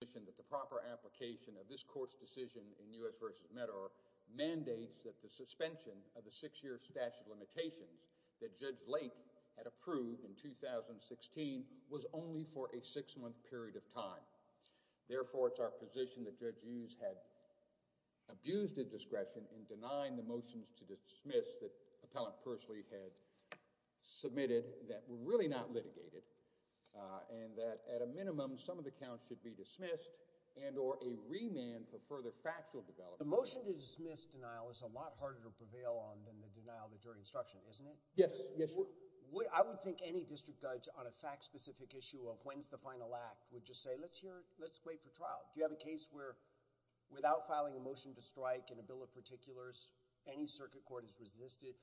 that the proper application of this court's decision in U.S. v. Medgar mandates that the suspension of the six-year statute of limitations that Judge Lake had approved in 2016 was only for a six-month period of time. Therefore, it's our position that Judge Hughes had abused the discretion in denying the motions to dismiss that Appellant Pursley had submitted that were really not litigated and that at a minimum, some of the counts should be dismissed and or a remand for further factual development. The motion to dismiss denial is a lot harder to prevail on than the denial of the jury instruction, isn't it? Yes. Yes, Your Honor. I would think any district judge on a fact-specific issue of when's the final act would just say, let's hear it. Let's wait for trial. Do you have a case where without filing a motion to strike in a bill of particulars, any circuit court has resisted,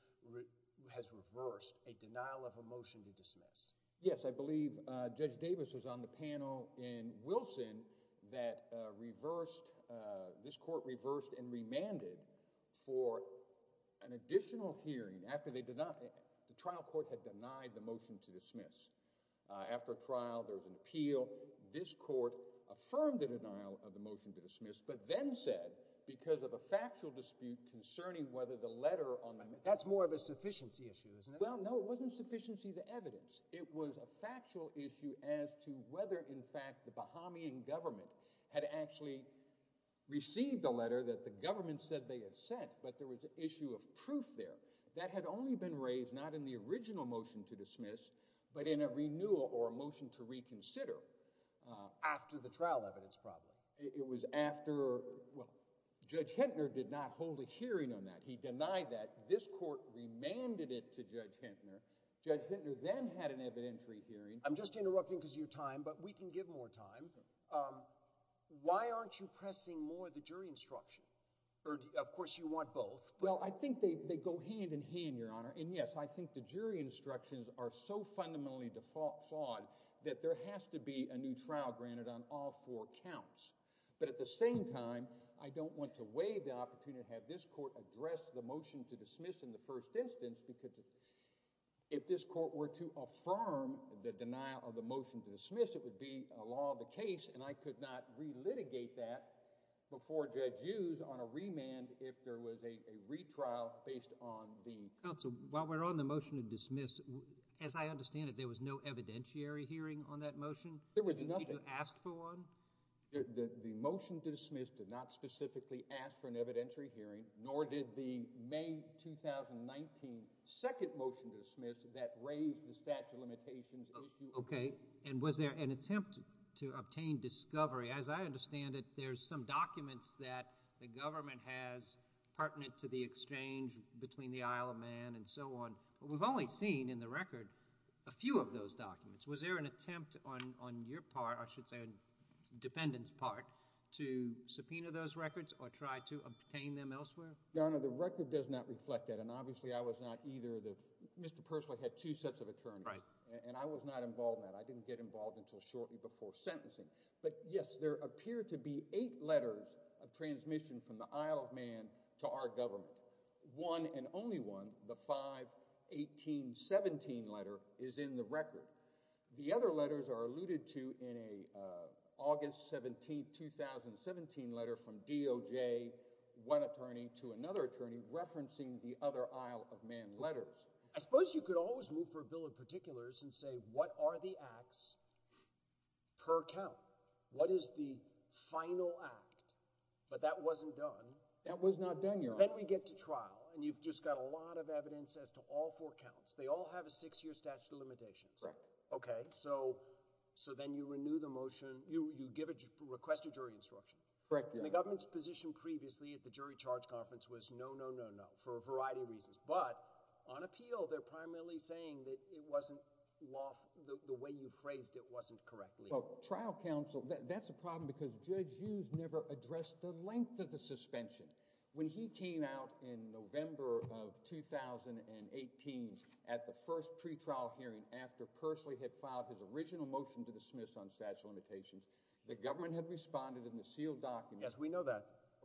has reversed a denial of a motion to dismiss? Yes, I believe Judge Davis was on the panel in Wilson that reversed, this court reversed and remanded for an additional hearing after they did not, the trial court had denied the motion to dismiss. After trial, there was an appeal. This court affirmed the denial of the motion to dismiss, but then said, because of a factual dispute concerning whether the letter on the... That's more of a sufficiency issue, isn't it? Well, no. It wasn't sufficiency of the evidence. It was a factual issue as to whether, in fact, the Bahamian government had actually received a letter that the government said they had sent, but there was an issue of proof there. That had only been raised not in the original motion to dismiss, but in a renewal or a motion to reconsider after the trial evidence problem. It was after, well, Judge Hintner did not hold a hearing on that. He denied that. This court remanded it to Judge Hintner. Judge Hintner then had an evidentiary hearing. I'm just interrupting because of your time, but we can give more time. Why aren't you pressing more of the jury instruction? Of course, you want both. Well, I think they go hand in hand, Your Honor, and yes, I think the jury instructions are so fundamentally flawed that there has to be a new trial granted on all four counts, but at the same time, I don't want to waive the opportunity to have this court address the motion to dismiss in the first instance because if this court were to affirm the denial of the motion to dismiss, it would be a law of the case, and I could not relitigate that before Judge Hughes on a remand if there was a retrial based on the... Counsel, while we're on the motion to dismiss, as I understand it, there was no evidentiary hearing on that motion? There was nothing. Did you ask for one? The motion to dismiss did not specifically ask for an evidentiary hearing, nor did the May 2019 second motion to dismiss that raised the statute of limitations issue... Okay, and was there an attempt to obtain discovery? As I understand it, there's some documents that the government has pertinent to the exchange between the Isle of Man and so on, but we've only seen in the record a few of those documents. Was there an attempt on your part, or I should say on the defendant's part, to subpoena those records or try to obtain them elsewhere? Your Honor, the record does not reflect that, and obviously I was not either of the... Mr. Persily had two sets of attorneys, and I was not involved in that. I didn't get involved until shortly before sentencing, but yes, there appear to be eight letters of transmission from the Isle of Man to our government. One and only one, the 5-18-17 letter, is in the record. The other letters are alluded to in an August 17, 2017 letter from DOJ, one attorney to another attorney, referencing the other Isle of Man letters. I suppose you could always move for a bill of particulars and say, what are the acts per count? What is the final act? That was not done, Your Honor. Well, then we get to trial, and you've just got a lot of evidence as to all four counts. They all have a six-year statute of limitations. Correct. Okay, so then you renew the motion, you request a jury instruction. Correct, Your Honor. The government's position previously at the jury charge conference was no, no, no, no, for a variety of reasons, but on appeal, they're primarily saying that it wasn't law... the way you phrased it wasn't correct. Well, trial counsel, that's a problem because Judge Hughes never addressed the length of the suspension. When he came out in November of 2018 at the first pretrial hearing after Persley had filed his original motion to dismiss on statute of limitations, the government had responded in the sealed document. Yes, we know that.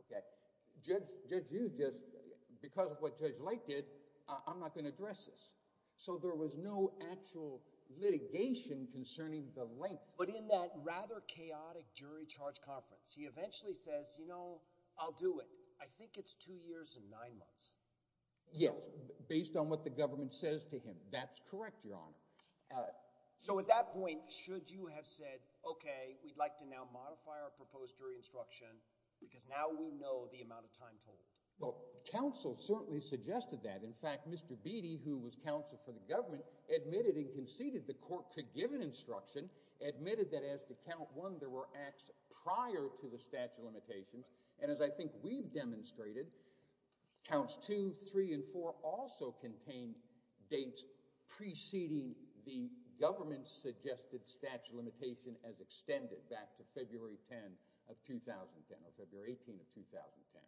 Okay. Judge Hughes just... because of what Judge Lake did, I'm not going to address this. So there was no actual litigation concerning the length. But in that rather chaotic jury charge conference, he eventually says, you know, I'll do it. I think it's two years and nine months. Yes, based on what the government says to him. That's correct, Your Honor. So at that point, should you have said, okay, we'd like to now modify our proposed jury instruction because now we know the amount of time told? Well, counsel certainly suggested that. In fact, Mr. Beatty, who was counsel for the government, admitted and conceded the court could give an instruction, admitted that as to count one, there were acts prior to the statute of limitations. And as I think we've demonstrated, counts two, three, and four also contain dates preceding the government's suggested statute of limitation as extended back to February 10 of 2010 or February 18 of 2010.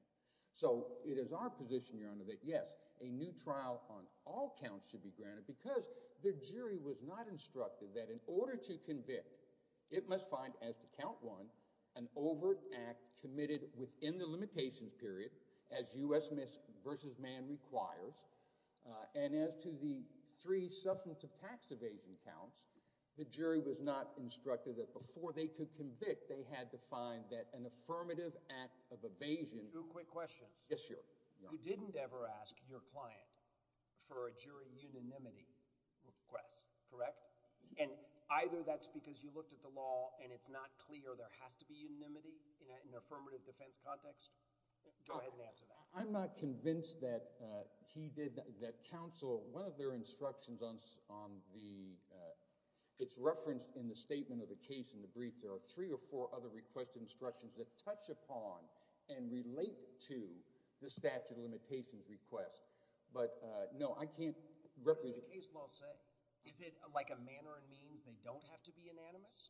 So it is our position, Your Honor, that yes, a new trial on all counts should be granted because the jury was not instructed that in order to convict, it must find as to count one, an overt act committed within the limitations period as U.S. versus man requires. And as to the three substantive tax evasion counts, the jury was not instructed that before they could convict, they had to find that an affirmative act of evasion. Two quick questions. Yes, Your Honor. You didn't ever ask your client for a jury unanimity request, correct? And either that's because you looked at the law and it's not clear there has to be unanimity in an affirmative defense context? Go ahead and answer that. I'm not convinced that he did, that counsel, one of their instructions on the, it's referenced in the statement of the case in the brief, there are three or four other requested instructions that touch upon and relate to the statute of limitations request. But no, I can't represent. What does the case law say? Is it like a manner and means they don't have to be unanimous?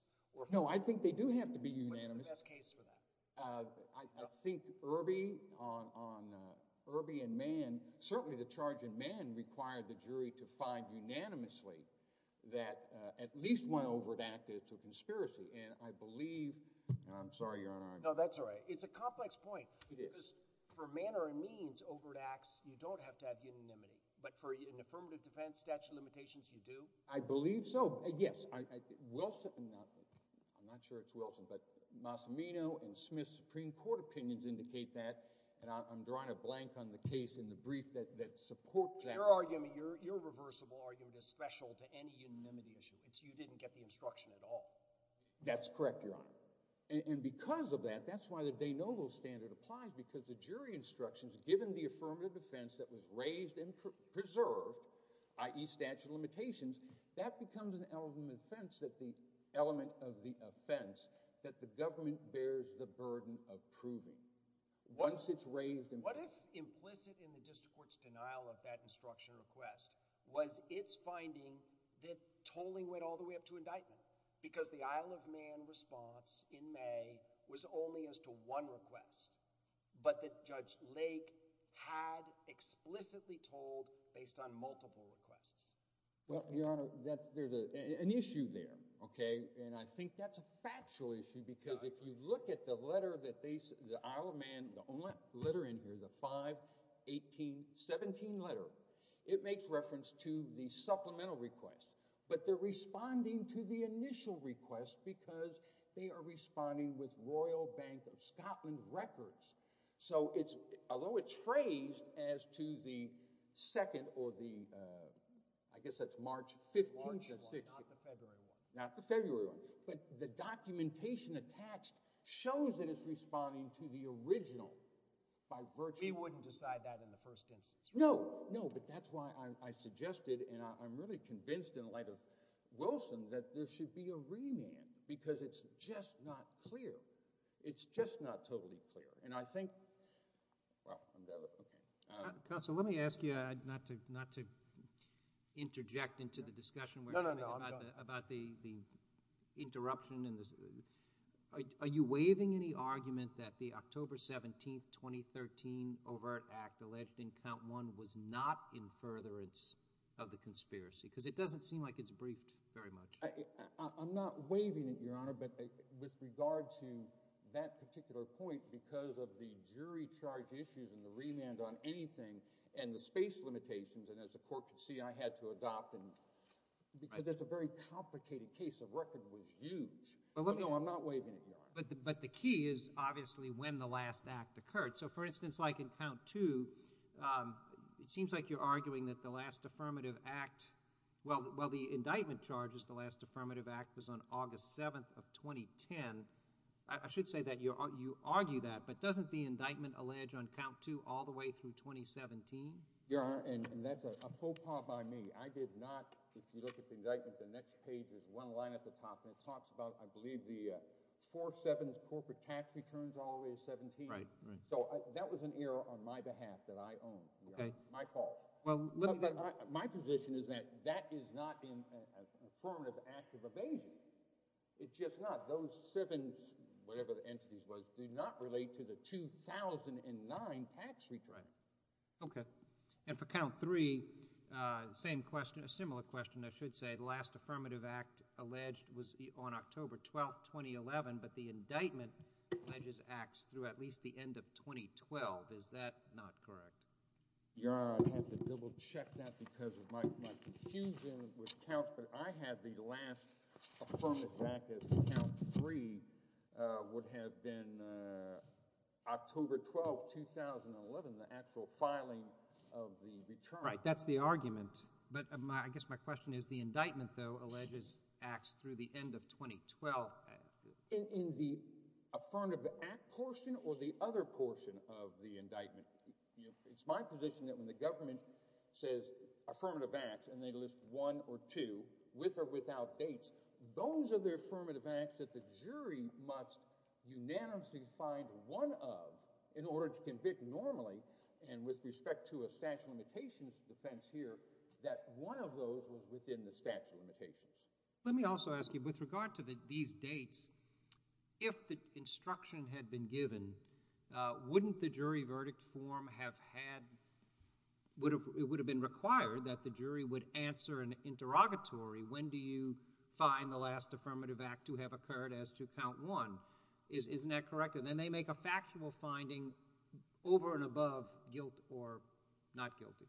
No, I think they do have to be unanimous. What's the best case for that? I think Irby on Irby and Mann, certainly the charge in Mann required the jury to find unanimously that at least one overt act is a conspiracy. And I believe, and I'm sorry, Your Honor. No, that's all right. It's a complex point. It is. Because for manner and means overt acts, you don't have to have unanimity. But for an affirmative defense statute of limitations, you do? I believe so. Yes. Wilson, I'm not sure it's Wilson, but Massimino and Smith's Supreme Court opinions indicate that and I'm drawing a blank on the case in the brief that supports that. Your argument, your irreversible argument is special to any unanimity issue. It's you didn't get the instruction at all. That's correct, Your Honor. And because of that, that's why the de novo standard applies, because the jury instructions, given the affirmative defense that was raised and preserved, i.e. statute of limitations, that becomes an element of the offense that the government bears the burden of proving. What if implicit in the district court's denial of that instruction request was its finding that tolling went all the way up to indictment, because the Isle of Man response in May was only as to one request, but that Judge Lake had explicitly told based on multiple requests? Well, Your Honor, there's an issue there, okay, and I think that's a factual issue because if you look at the letter that they, the Isle of Man, the only letter in here, the 51817 letter, it makes reference to the supplemental request, but they're responding to the initial request because they are responding with Royal Bank of Scotland records. So it's, although it's phrased as to the 2nd or the, I guess that's March 15th or 16th. March 1st, not the February 1st. Not the February 1st. But the documentation attached shows that it's responding to the original by virtue. He wouldn't decide that in the first instance, right? No, no, but that's why I suggested, and I'm really convinced in light of Wilson that there should be a remand because it's just not clear. It's just not totally clear, and I think, well, okay. Counsel, let me ask you, not to interject into the discussion about the interruption and the, are you waiving any argument that the October 17th, 2013 overt act alleged in count one was not in furtherance of the conspiracy, because it doesn't seem like it's briefed very much. I'm not waiving it, Your Honor, but with regard to that particular point, because of the jury charge issues and the remand on anything and the space limitations, and as the court could see, I had to adopt them because that's a very complicated case. The record was huge. Well, let me know. I'm not waiving it, Your Honor. But the key is obviously when the last act occurred. So, for instance, like in count two, it seems like you're arguing that the last affirmative act, well, the indictment charges the last affirmative act was on August 7th of 2010. I should say that you argue that, but doesn't the indictment allege on count two all the way through 2017? Your Honor, and that's a faux pas by me. I did not, if you look at the indictment, the next page, there's one line at the top, and it talks about, I believe, the 4-7 corporate tax returns all the way to 17. Right, right. So, that was an error on my behalf that I owned, Your Honor, my fault. My position is that that is not an affirmative act of evasion, it's just not. Those seven, whatever the entities was, did not relate to the 2009 tax return. Okay, and for count three, same question, a similar question, I should say, the last affirmative act alleged was on October 12th, 2011, but the indictment alleges acts through at least the end of 2012. Is that not correct? Your Honor, I'd have to double-check that because of my confusion with counts, but I had the last affirmative act as count three would have been October 12th, 2011, the actual filing of the return. Right, that's the argument, but I guess my question is, the indictment, though, alleges acts through the end of 2012. In the affirmative act portion or the other portion of the indictment, it's my position that when the government says affirmative acts and they list one or two, with or without dates, those are the affirmative acts that the jury must unanimously find one of in order to convict normally, and with respect to a statute of limitations defense here, that Let me also ask you, with regard to these dates, if the instruction had been given, wouldn't the jury verdict form have had, it would have been required that the jury would answer an interrogatory, when do you find the last affirmative act to have occurred as to count one? Isn't that correct? And then they make a factual finding over and above guilt or not guilty.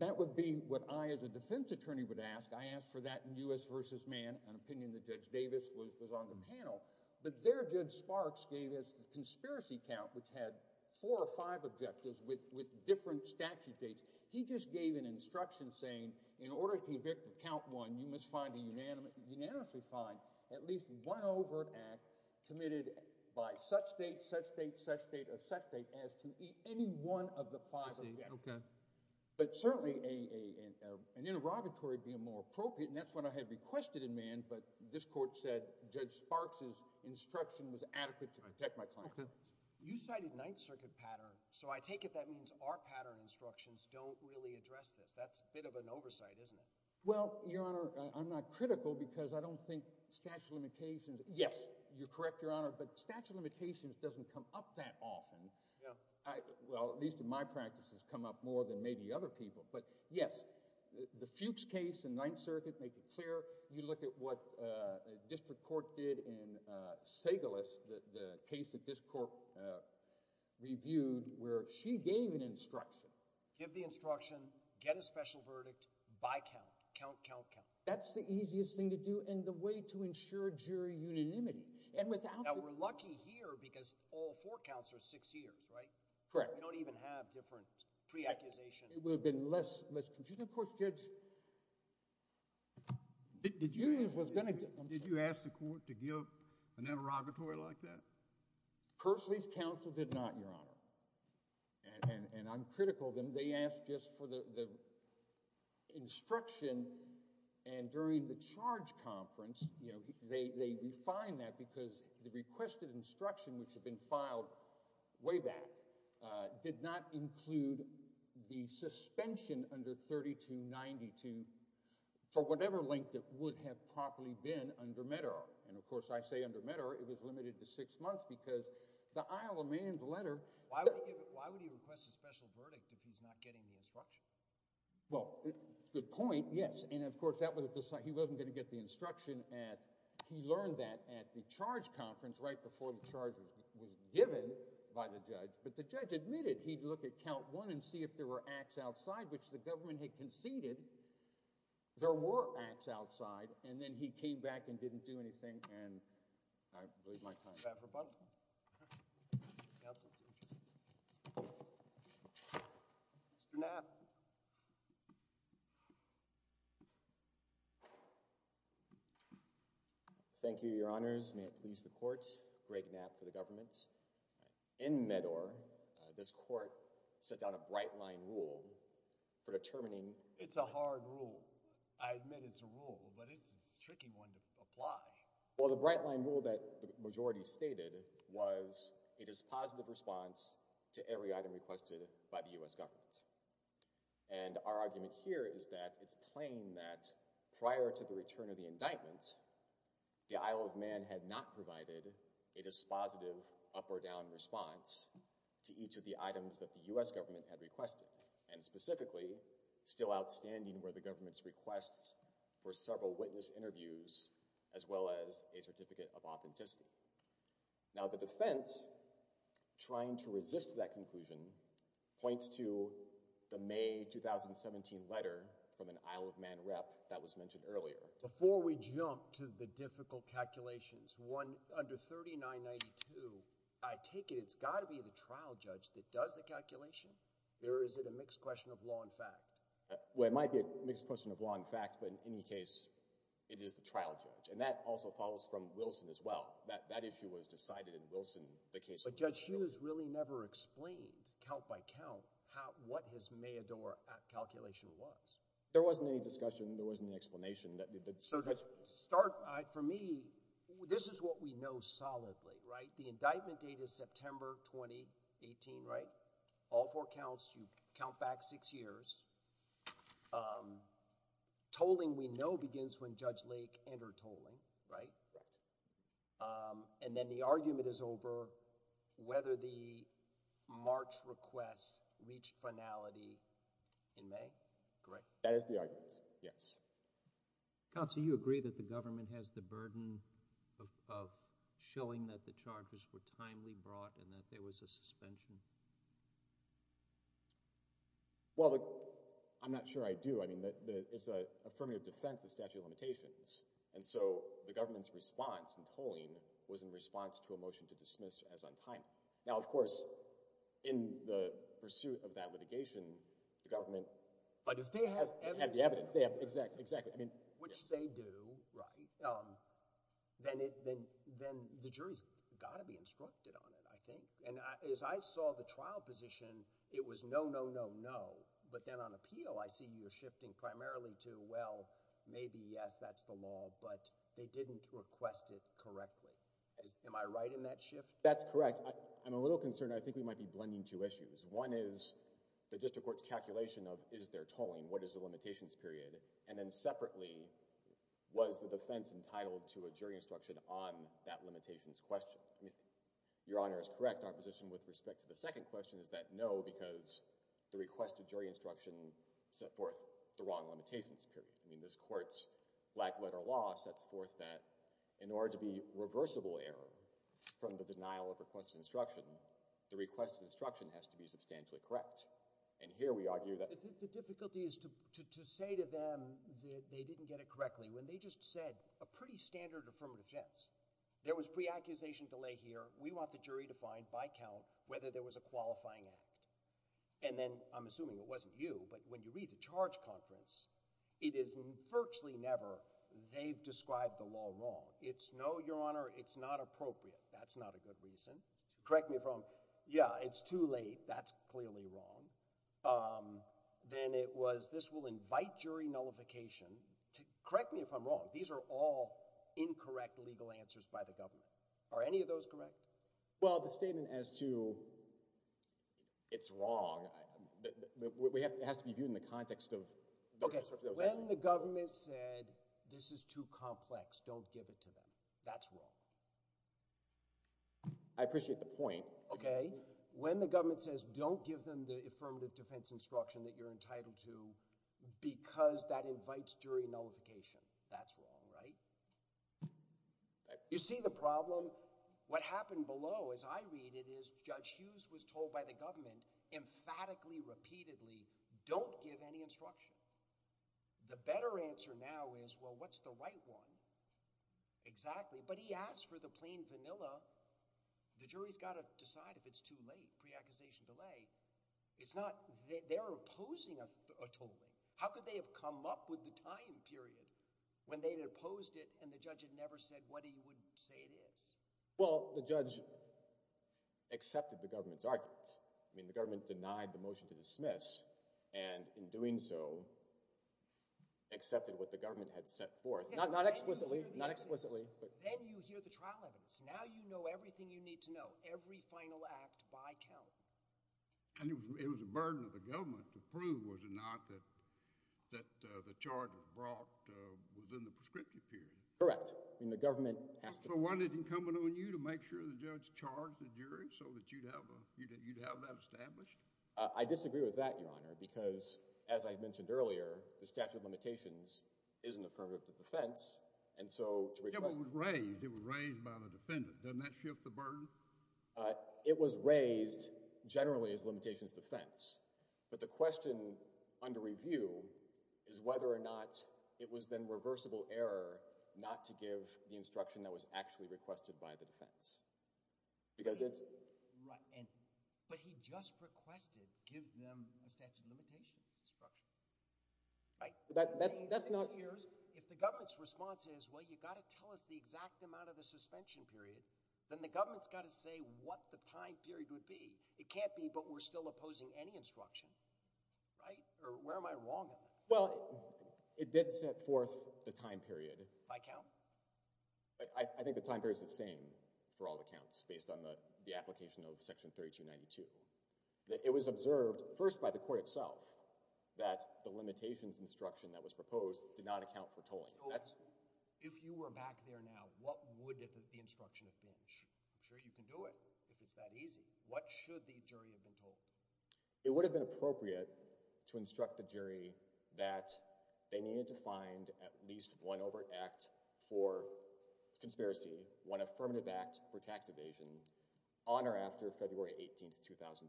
That would be what I, as a defense attorney, would ask. I asked for that in U.S. v. Mann, an opinion that Judge Davis was on the panel, but there Judge Sparks gave us the conspiracy count, which had four or five objectives with different statute dates. He just gave an instruction saying, in order to convict of count one, you must find a unanimously find at least one overt act committed by such date, such date, such date, or such date as to any one of the five objectives. But certainly an interrogatory would be more appropriate, and that's what I had requested in Mann, but this court said Judge Sparks' instruction was adequate to protect my client. You cited Ninth Circuit pattern, so I take it that means our pattern instructions don't really address this. That's a bit of an oversight, isn't it? Well, Your Honor, I'm not critical because I don't think statute of limitations, yes, you're correct, Your Honor, but statute of limitations doesn't come up that often. Well, at least in my practice, it's come up more than maybe other people, but yes, the Fuchs case in Ninth Circuit, make it clear, you look at what District Court did in Segalus, the case that this court reviewed, where she gave an instruction. Give the instruction, get a special verdict by count, count, count, count. That's the easiest thing to do and the way to ensure jury unanimity. Now, we're lucky here because all four counts are six years, right? Correct. We don't even have different pre-accusations. It would have been less confusing. Of course, Judge Fuchs was going to... Did you ask the court to give an interrogatory like that? Personally, the counsel did not, Your Honor, and I'm critical of them. They asked just for the instruction and during the charge conference, they refined that because the requested instruction, which had been filed way back, did not include the suspension under 3292 for whatever length it would have probably been under Medar. Of course, I say under Medar, it was limited to six months because the Isle of Man's letter... I'm getting the instruction. Well, good point. Yes. Of course, he wasn't going to get the instruction. He learned that at the charge conference right before the charge was given by the judge, but the judge admitted he'd look at count one and see if there were acts outside, which the government had conceded there were acts outside, and then he came back and didn't do anything and I believe my time is up. I'm sorry. I'm sorry. I'm sorry. I'm sorry. I'm sorry. I'm sorry. I'm sorry. I'm sorry. Mr. Knapp. Thank you, your honors. May it please the court. Greg Knapp for the government. In Medar, this court set down a bright line rule for determining... It's a hard rule. I admit it's a rule, but it's a tricky one to apply. Well, the bright line rule that the majority stated was it is positive response to every And our argument here is that it's plain that prior to the return of the indictment, the Isle of Man had not provided a dispositive up or down response to each of the items that the U.S. government had requested, and specifically, still outstanding were the government's requests for several witness interviews as well as a certificate of authenticity. Now, the defense, trying to resist that conclusion, points to the May 2017 letter from an Isle of Man rep that was mentioned earlier. Before we jump to the difficult calculations, under 3992, I take it it's got to be the trial judge that does the calculation, or is it a mixed question of law and fact? Well, it might be a mixed question of law and fact, but in any case, it is the trial judge. And that also follows from Wilson as well. That issue was decided in Wilson, the case of Mayador. But Judge Hughes really never explained, count by count, what his Mayador calculation was. There wasn't any discussion. There wasn't an explanation. Sir, to start, for me, this is what we know solidly, right? The indictment date is September 2018, right? All four counts, you count back six years. Tolling, we know, begins when Judge Lake entered tolling, right? And then the argument is over whether the March request reached finality in May, correct? That is the argument, yes. Counsel, you agree that the government has the burden of showing that the charges were timely brought and that there was a suspension? Well, I'm not sure I do. I mean, it's an affirmative defense of statute of limitations. And so the government's response in tolling was in response to a motion to dismiss as untimely. Now, of course, in the pursuit of that litigation, the government— But if they have evidence— They have the evidence. Exactly. Exactly. I mean— Which they do, right? Then the jury's got to be instructed on it, I think. And as I saw the trial position, it was no, no, no, no. But then on appeal, I see you're shifting primarily to, well, maybe, yes, that's the law, but they didn't request it correctly. Am I right in that shift? That's correct. I'm a little concerned. I think we might be blending two issues. One is the district court's calculation of, is there tolling? What is the limitations period? And then separately, was the defense entitled to a jury instruction on that limitations question? Your Honor is correct. Our position with respect to the second question is that no, because the request of jury instruction set forth the wrong limitations period. I mean, this court's black letter law sets forth that in order to be reversible error from the denial of request of instruction, the request of instruction has to be substantially correct. And here we argue that— The difficulty is to say to them that they didn't get it correctly when they just said a pretty standard affirmative defense. There was pre-accusation delay here. We want the jury to find by count whether there was a qualifying act. And then, I'm assuming it wasn't you, but when you read the charge conference, it is virtually never they've described the law wrong. It's no, Your Honor, it's not appropriate. That's not a good reason. Correct me if I'm wrong. Yeah, it's too late. That's clearly wrong. Then it was, this will invite jury nullification. Correct me if I'm wrong. These are all incorrect legal answers by the government. Are any of those correct? Well, the statement as to it's wrong, it has to be viewed in the context of— Okay. When the government said, this is too complex, don't give it to them, that's wrong. I appreciate the point. Okay. When the government says, don't give them the affirmative defense instruction that you're You see the problem? What happened below, as I read it, is Judge Hughes was told by the government, emphatically, repeatedly, don't give any instruction. The better answer now is, well, what's the right one exactly? But he asked for the plain vanilla. The jury's got to decide if it's too late, pre-accusation delay. It's not, they're opposing a tolling. How could they have come up with the time period when they had opposed it and the judge had never said what he would say it is? Well, the judge accepted the government's arguments. I mean, the government denied the motion to dismiss, and in doing so, accepted what the government had set forth. Not explicitly, not explicitly. Then you hear the trial evidence. Now you know everything you need to know. Every final act by count. And it was a burden of the government to prove, was it not, that the charges were brought within the prescriptive period. Correct. I mean, the government has to. So, wasn't it incumbent on you to make sure the judge charged the jury so that you'd have that established? I disagree with that, Your Honor, because, as I mentioned earlier, the statute of limitations is an affirmative defense, and so to request... It was raised. It was raised by the defendant. Doesn't that shift the burden? It was raised generally as limitations defense, but the question under review is whether or not it was then reversible error not to give the instruction that was actually requested by the defense. Because it's... Right. But he just requested, give them a statute of limitations instruction. Right. That's not... So, what he's saying here is, if the government's response is, well, you've got to tell us the time period, you've got to say what the time period would be. It can't be, but we're still opposing any instruction, right, or where am I wrong in that? Well, it did set forth the time period... By count? I think the time period's the same for all the counts based on the application of Section 3292. It was observed, first by the court itself, that the limitations instruction that was proposed did not account for tolling. That's... So, if you were back there now, what would the instruction have been? I'm sure you can do it if it's that easy. What should the jury have been told? It would have been appropriate to instruct the jury that they needed to find at least one overt act for conspiracy, one affirmative act for tax evasion, on or after February 18, 2010,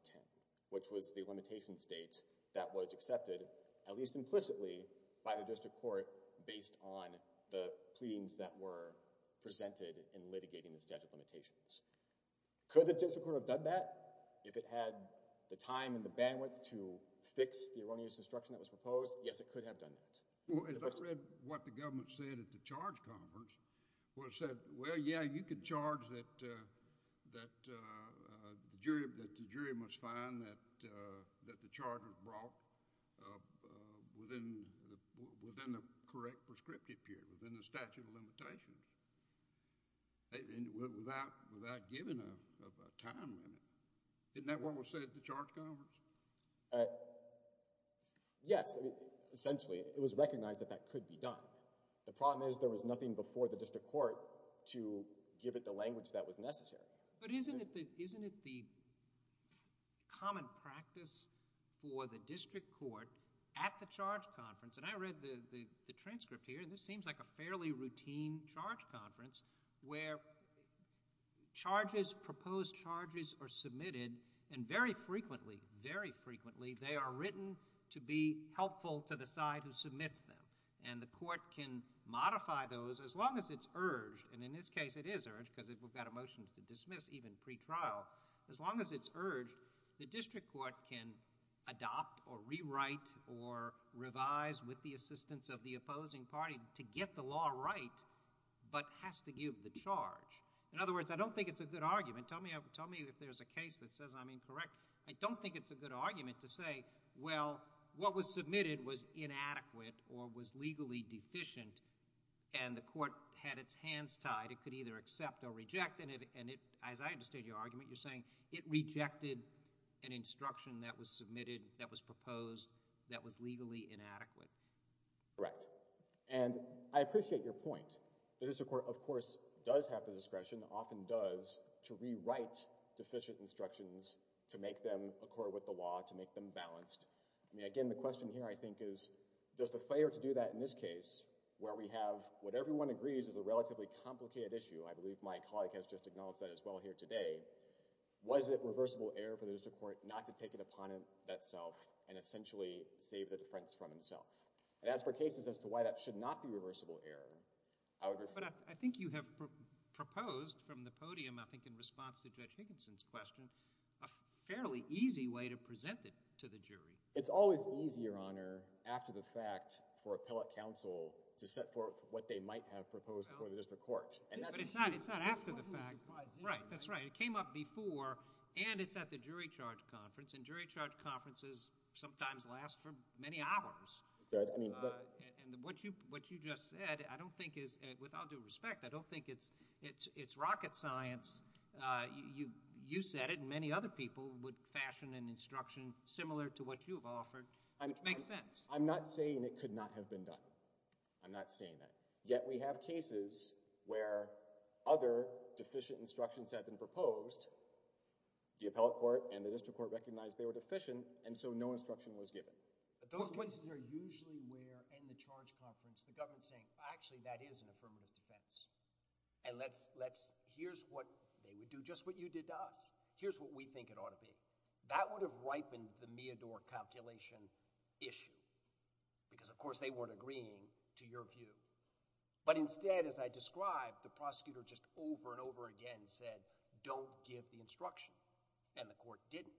which was the limitation state that was accepted, at least implicitly, by the statute of limitations. Could the district court have done that if it had the time and the bandwidth to fix the erroneous instruction that was proposed? Yes, it could have done that. Well, as I read what the government said at the charge conference, it said, well, yeah, you could charge that the jury must find that the charge was brought within the correct prescriptive period, within the statute of limitations, without giving a time limit. Isn't that what was said at the charge conference? Yes. Essentially, it was recognized that that could be done. The problem is there was nothing before the district court to give it the language that was necessary. But isn't it the common practice for the district court at the charge conference, and I read the transcript here, and this seems like a fairly routine charge conference, where charges, proposed charges, are submitted, and very frequently, very frequently, they are written to be helpful to the side who submits them. And the court can modify those as long as it's urged. And in this case, it is urged, because we've got a motion to dismiss even pretrial. As long as it's urged, the district court can adopt or rewrite or revise with the assistance of the opposing party to get the law right, but has to give the charge. In other words, I don't think it's a good argument. Tell me if there's a case that says I'm incorrect. I don't think it's a good argument to say, well, what was submitted was inadequate or was legally deficient, and the court had its hands tied. It could either accept or reject. And as I understand your argument, you're saying it rejected an instruction that was submitted, that was proposed, that was legally inadequate. Correct. And I appreciate your point. The district court, of course, does have the discretion, often does, to rewrite deficient instructions to make them accord with the law, to make them balanced. I mean, again, the question here, I think, is does the failure to do that in this case, where we have what everyone agrees is a relatively complicated issue. I believe my colleague has just acknowledged that as well here today. Was it reversible error for the district court not to take it upon itself and essentially save the defense from himself? And as for cases as to why that should not be reversible error, I would refer— But I think you have proposed from the podium, I think in response to Judge Higginson's question, a fairly easy way to present it to the jury. It's always easier, Honor, after the fact, for appellate counsel to set forth what they might have proposed before the district court. But it's not after the fact. Right. That's right. It came up before, and it's at the jury charge conference, and jury charge conferences sometimes last for many hours. And what you just said, I don't think is—with all due respect, I don't think it's rocket science. You said it, and many other people would fashion an instruction similar to what you have offered, which makes sense. I'm not saying it could not have been done. I'm not saying that. Yet we have cases where other deficient instructions have been proposed. The appellate court and the district court recognized they were deficient, and so no instruction was given. Those cases are usually where, in the charge conference, the government is saying, actually that is an affirmative defense. And let's—here's what—they would do just what you did to us. Here's what we think it ought to be. That would have ripened the Meador calculation issue. Because of course they weren't agreeing to your view. But instead, as I described, the prosecutor just over and over again said, don't give the instruction. And the court didn't.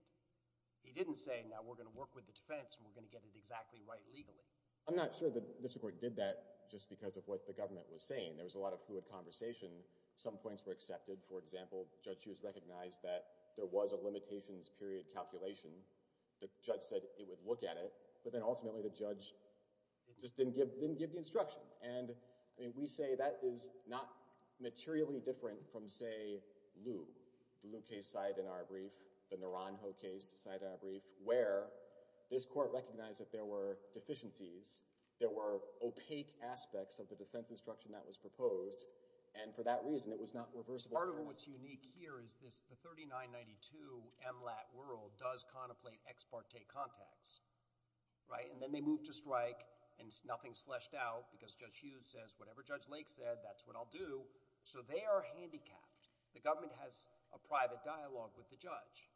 He didn't say, now we're going to work with the defense, and we're going to get it exactly right legally. I'm not sure the district court did that just because of what the government was saying. There was a lot of fluid conversation. Some points were accepted. For example, Judge Hughes recognized that there was a limitations period calculation. The judge said it would look at it, but then ultimately the judge just didn't give the instruction. And we say that is not materially different from, say, Lew. The Lew case side in our brief, the Naranjo case side in our brief, where this court recognized that there were deficiencies. There were opaque aspects of the defense instruction that was proposed. And for that reason, it was not reversible. Part of what's unique here is the 3992 MLAT world does contemplate ex parte contacts. And then they move to strike, and nothing's fleshed out because Judge Hughes says, whatever Judge Lake said, that's what I'll do. So they are handicapped. The government has a private dialogue with the judge.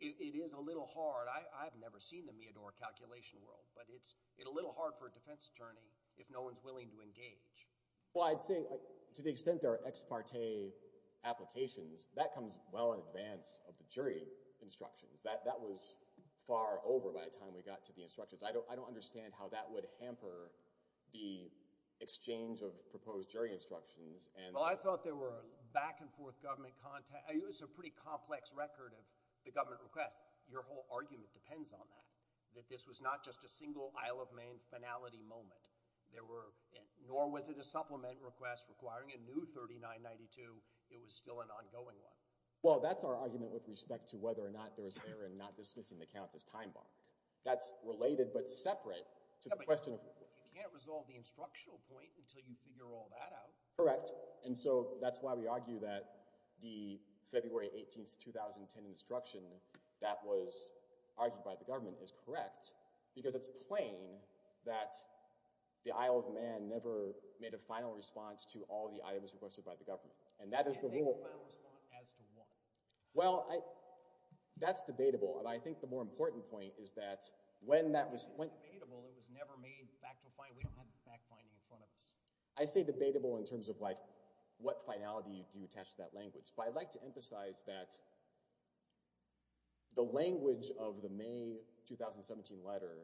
It is a little hard. I've never seen the Meador calculation world. But it's a little hard for a defense attorney if no one's willing to engage. Well, I'd say to the extent there are ex parte applications, that comes well in advance of the jury instructions. That was far over by the time we got to the instructions. I don't understand how that would hamper the exchange of proposed jury instructions. Well, I thought there were back and forth government contact. It was a pretty complex record of the government requests. Your whole argument depends on that, that this was not just a single Isle of Maine finality moment. Nor was it a supplement request requiring a new 3992. It was still an ongoing one. Well, that's our argument with respect to whether or not there was error in not dismissing the counts as time-bombed. That's related but separate to the question of— Yeah, but you can't resolve the instructional point until you figure all that out. Correct. And so that's why we argue that the February 18, 2010 instruction that was argued by the Isle of Man never made a final response to all the items requested by the government. And that is the rule— It didn't make a final response as to what? Well, that's debatable. And I think the more important point is that when that was— It's debatable. It was never made back to a finality. We don't have back-finding in front of us. I say debatable in terms of what finality do you attach to that language. But I'd like to emphasize that the language of the May 2017 letter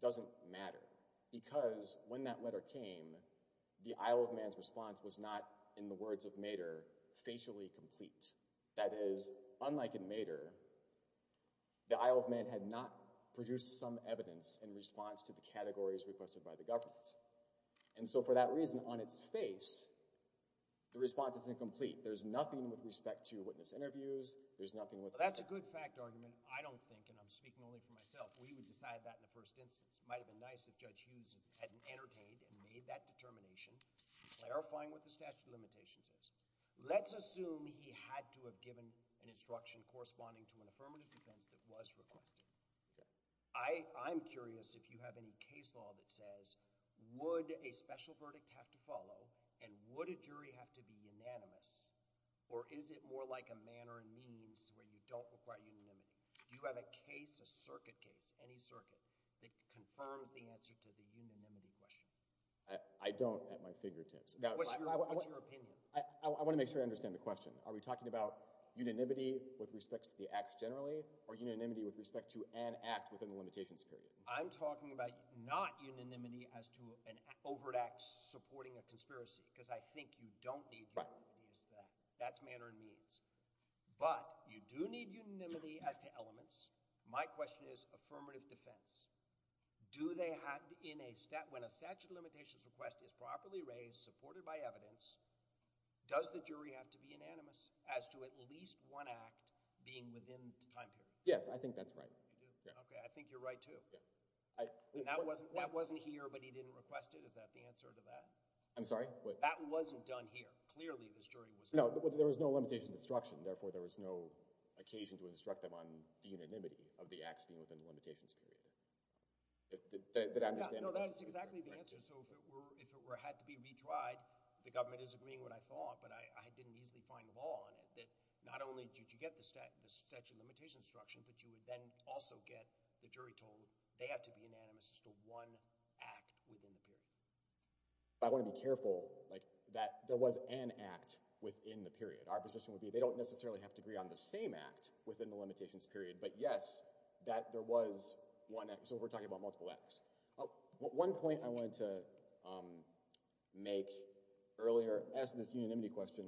doesn't matter. Because when that letter came, the Isle of Man's response was not, in the words of Mater, facially complete. That is, unlike in Mater, the Isle of Man had not produced some evidence in response to the categories requested by the government. And so for that reason, on its face, the response isn't complete. There's nothing with respect to witness interviews. There's nothing with— That's a good fact argument, I don't think, and I'm speaking only for myself. We would decide that in the first instance. It might have been nice if Judge Hughes had entertained and made that determination, clarifying what the statute of limitations is. Let's assume he had to have given an instruction corresponding to an affirmative defense that was requested. I'm curious if you have any case law that says, would a special verdict have to follow and would a jury have to be unanimous? Or is it more like a manner and means where you don't require unanimity? Do you have a case, a circuit case, any circuit that confirms the answer to the unanimity question? I don't at my fingertips. What's your opinion? I want to make sure I understand the question. Are we talking about unanimity with respect to the acts generally or unanimity with respect to an act within the limitations period? I'm talking about not unanimity as to an overt act supporting a conspiracy because I think you don't need unanimity as to that. That's manner and means. But you do need unanimity as to elements. My question is affirmative defense. When a statute of limitations request is properly raised, supported by evidence, does the jury have to be unanimous as to at least one act being within the time period? Yes, I think that's right. Okay, I think you're right too. That wasn't here, but he didn't request it. Is that the answer to that? I'm sorry? That wasn't done here. Clearly, this jury was here. No, there was no limitations instruction. Therefore, there was no occasion to instruct them on the unanimity of the acts being within the limitations period. Did I understand the question? No, that's exactly the answer. If it had to be retried, the government is agreeing with what I thought, but I didn't easily find law on it that not only did you get the statute of limitations instruction, but you would then also get the jury told they have to be unanimous as to one act within the period. I want to be careful that there was an act within the period. Our position would be they don't necessarily have to agree on the same act within the limitations period, but yes, that there was one act. So, we're talking about multiple acts. One point I wanted to make earlier, as to this unanimity question,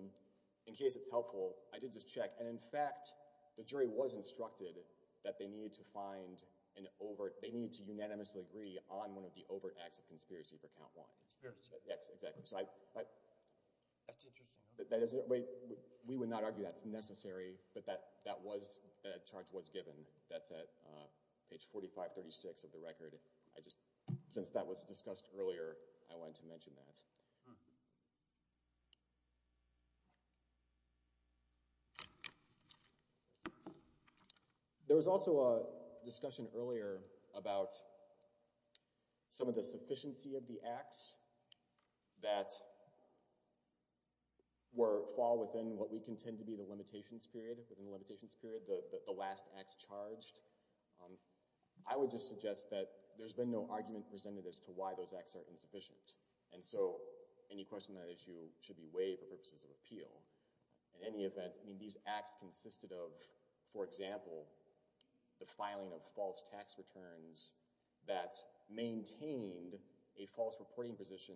in case it's helpful, I did just check, and in fact, the jury was instructed that they need to find an overt, they need to unanimously agree on one of the overt acts of conspiracy for count one. Conspiracy. Yes, exactly. That's interesting. We would not argue that's necessary, but that charge was given. That's at page 4536 of the record. Since that was discussed earlier, I wanted to mention that. There was also a discussion earlier about some of the sufficiency of the acts that fall within what we contend to be the limitations period, within the limitations period, the last acts charged. I would just suggest that there's been no argument presented as to why those acts are insufficient. And so, any question on that issue should be weighed for purposes of appeal. In any event, I mean, these acts consisted of, for example, the filing of false tax returns that maintained a false reporting position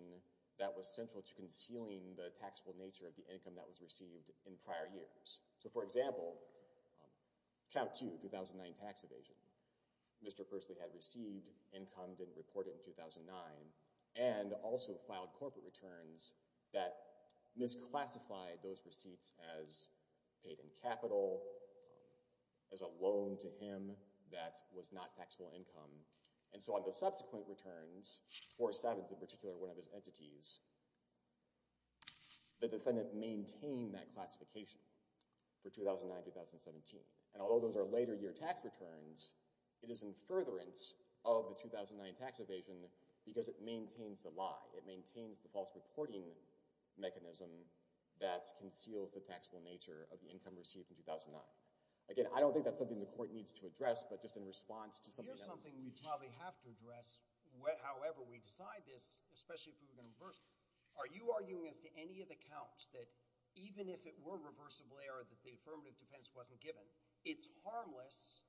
that was central to concealing the taxable nature of the income that was received in prior years. So, for example, count two, 2009 tax evasion. Mr. Pursley had received income, didn't report it in 2009, and also filed corporate returns that misclassified those receipts as paid in capital, as a loan to him that was not taxable income. And so, on the subsequent returns, four sevens in particular, one of his entities, the defendant maintained that classification for 2009-2017. And although those are later year tax returns, it is in furtherance of the 2009 tax evasion because it maintains the lie. It maintains the false reporting mechanism that conceals the taxable nature of the income received in 2009. Again, I don't think that's something the court needs to address, but just in response to something else. Here's something we probably have to address, however we decide this, especially if we're going to reverse it. Are you arguing as to any of the counts that even if it were a reversible error that the affirmative defense wasn't given, it's harmless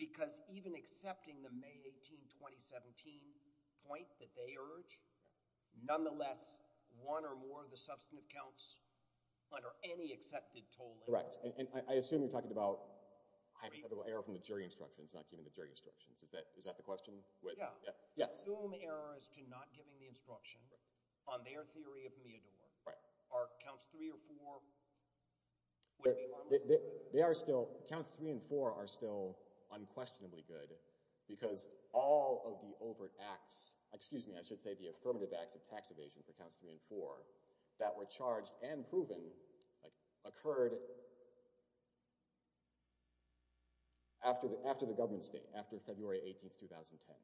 because even accepting the May 18, 2017 point that they urge, nonetheless, one or more of the substantive counts under any accepted toll... Correct. And I assume you're talking about hypothetical error from the jury instructions, not given the jury instructions. Is that the question? Yeah. Yes. Assume errors to not giving the instruction on their theory of Meador. Are counts three or four... Counts three and four are still unquestionably good because all of the overt acts... Excuse me, I should say the affirmative acts of tax evasion for counts three and four that were charged and proven occurred after the government state, after February 18, 2010.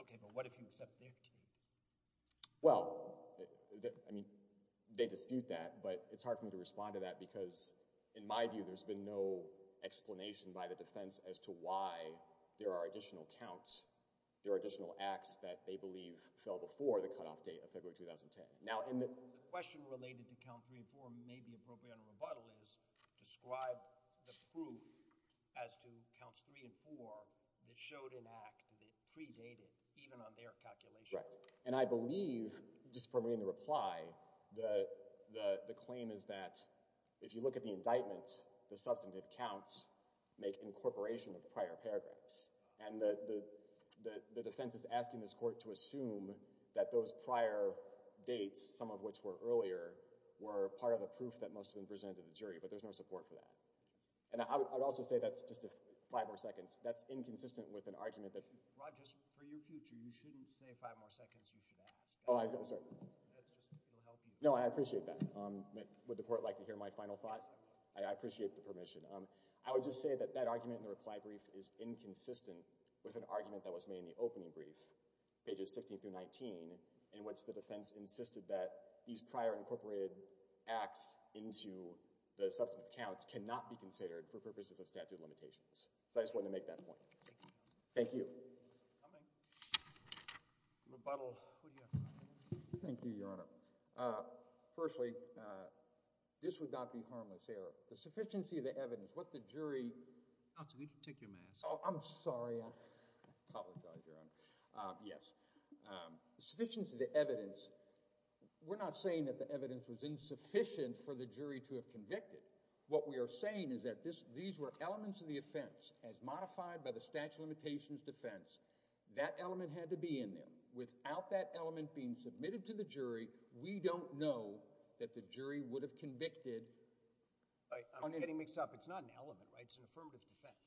Okay, but what if you accept their theory? Well, I mean, they dispute that, but it's hard for me to respond to that because in my view, there's been no explanation by the defense as to why there are additional counts, there are additional acts that they believe fell before the cutoff date of February 2010. Now, in the... The question related to count three and four may be appropriate on rebuttal is describe the proof as to counts three and four that showed an act that predated even on their calculation. Right, and I believe, just from reading the reply, the claim is that if you look at the indictment, the substantive counts make incorporation of prior paragraphs and the defense is asking this court to assume that those prior dates, some of which were earlier, were part of the proof that must have been presented to the jury, but there's no support for that. And I would also say that's just five more seconds. That's inconsistent with an argument that... Rod, just for your future, you shouldn't say five more seconds, you should ask. Oh, I'm sorry. That's just, it'll help you. No, I appreciate that. Would the court like to hear my final thoughts? I appreciate the permission. I would just say that that argument in the reply brief is inconsistent with an argument that was made in the opening brief, pages 16 through 19, in which the defense insisted that these prior incorporated acts into the substantive counts cannot be considered for purposes of statute of limitations. So I just wanted to make that point. Thank you. Thank you. Thank you, Your Honor. Firstly, this would not be harmless error. The sufficiency of the evidence, what the jury... Counsel, could you take your mask off? Oh, I'm sorry. I apologize, Your Honor. Yes. The sufficiency of the evidence, we're not saying that the evidence was insufficient for the jury to have convicted. What we are saying is that these were elements of the offense as modified by the statute of limitations defense. That element had to be in there. Without that element being submitted to the jury, we don't know that the jury would have convicted... I'm getting mixed up. It's not an element, right? It's an affirmative defense.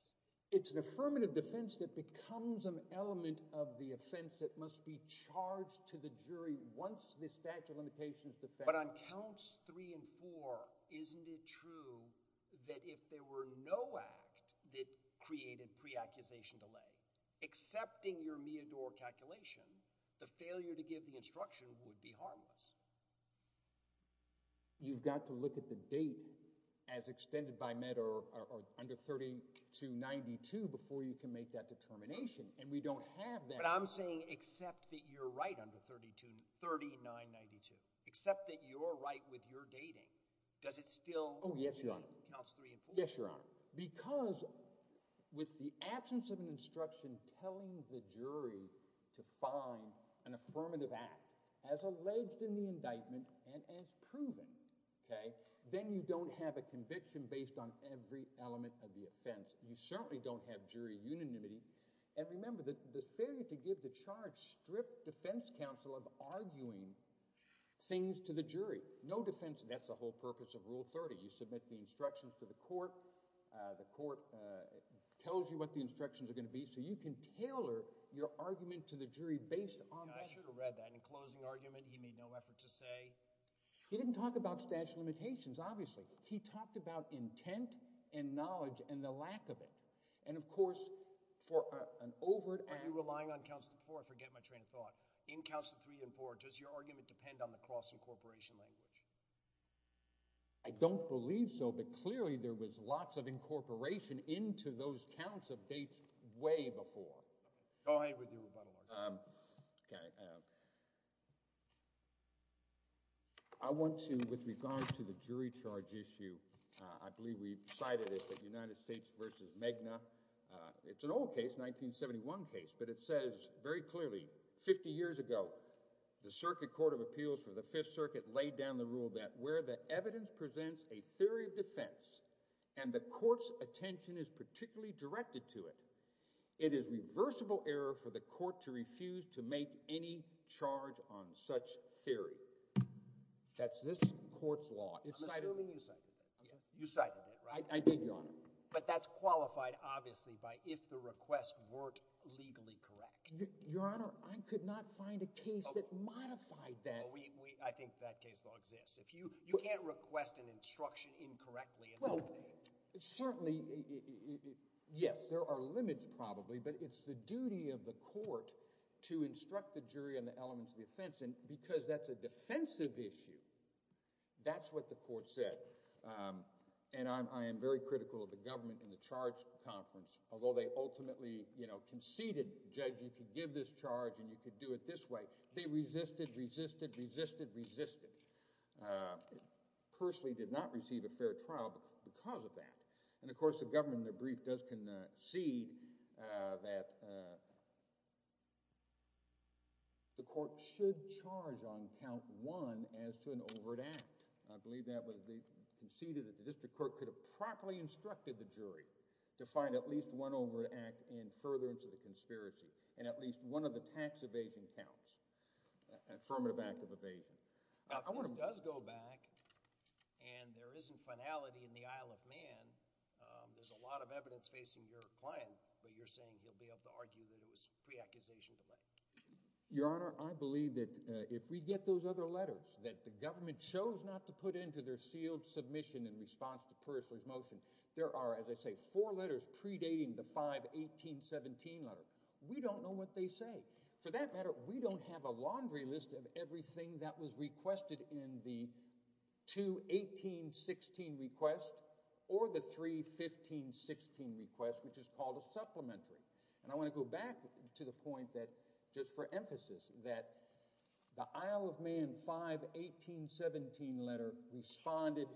It's an affirmative defense that becomes an element of the offense that must be charged to the jury once this statute of limitations defense... But on counts three and four, isn't it true that if there were no act that created pre-accusation delay, accepting your Meador calculation, the failure to give the instruction would be harmless? You've got to look at the date as extended by Meador under 3292 before you can make that determination, and we don't have that... But I'm saying except that you're right under 3992, except that you're right with your dating, does it still... Oh, yes, Your Honor. ...counts three and four? Yes, Your Honor. Because with the absence of an instruction telling the jury to find an affirmative act as alleged in the indictment and as proven, then you don't have a conviction based on every element of the offense. You certainly don't have jury unanimity. And remember, the failure to give the charge stripped defense counsel of arguing things to the jury. No defense... That's the whole purpose of Rule 30. You submit the instructions to the court. The court tells you what the instructions are going to be so you can tailor your argument to the jury based on... Yeah, I should have read that. In closing argument, he made no effort to say... He didn't talk about statute of limitations, obviously. He talked about intent and knowledge and the lack of it. And, of course, for an overt... Are you relying on counts of four? I forget my train of thought. In counts of three and four, does your argument depend on the cross-incorporation language? I don't believe so, but clearly there was lots of incorporation into those counts of dates way before. Go ahead with your rebuttal argument. Um, okay. I want to, with regard to the jury charge issue, I believe we cited it at United States v. Megna. It's an old case, 1971 case, but it says very clearly 50 years ago the Circuit Court of Appeals for the Fifth Circuit laid down the rule that where the evidence presents a theory of defense and the court's attention is particularly directed to it, it is reversible error for the court to refuse to make any charge on such theory. That's this court's law. I'm assuming you cited it. You cited it, right? I did, Your Honor. But that's qualified, obviously, by if the requests weren't legally correct. Your Honor, I could not find a case that modified that. I think that case still exists. You can't request an instruction incorrectly. Well, certainly, yes, there are limits probably, but it's the duty of the court to instruct the jury on the elements of the offense, and because that's a defensive issue, that's what the court said. And I am very critical of the government in the charge conference. Although they ultimately conceded, Judge, you could give this charge and you could do it this way, they resisted, resisted, resisted, resisted. Persley did not receive a fair trial because of that. And, of course, the government in their brief does concede that the court should charge on count one as to an overt act. I believe that was conceded that the district court could have properly instructed the jury to find at least one overt act and further into the conspiracy, and at least one of the tax evasion counts, affirmative act of evasion. Now, if this does go back and there isn't finality in the Isle of Man, there's a lot of evidence facing your client, but you're saying he'll be able to argue that it was pre-accusation delay. Your Honor, I believe that if we get those other letters, that the government chose not to put into their sealed submission in response to Persley's motion, there are, as I say, four letters predating the 5-18-17 letter. We don't know what they say. For that matter, we don't have a laundry list of everything that was requested in the 2-18-16 request or the 3-15-16 request, which is called a supplementary. And I want to go back to the point that, just for emphasis, that the Isle of Man 5-18-17 letter responded,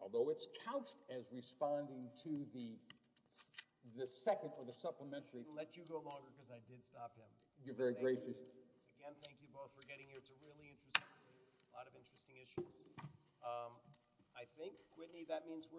although it's couched as responding to the second or the supplementary. I'll let you go longer because I did stop him. You're very gracious. Again, thank you both for getting here. It's a really interesting case, a lot of interesting issues. I think, Whitney, that means we're done.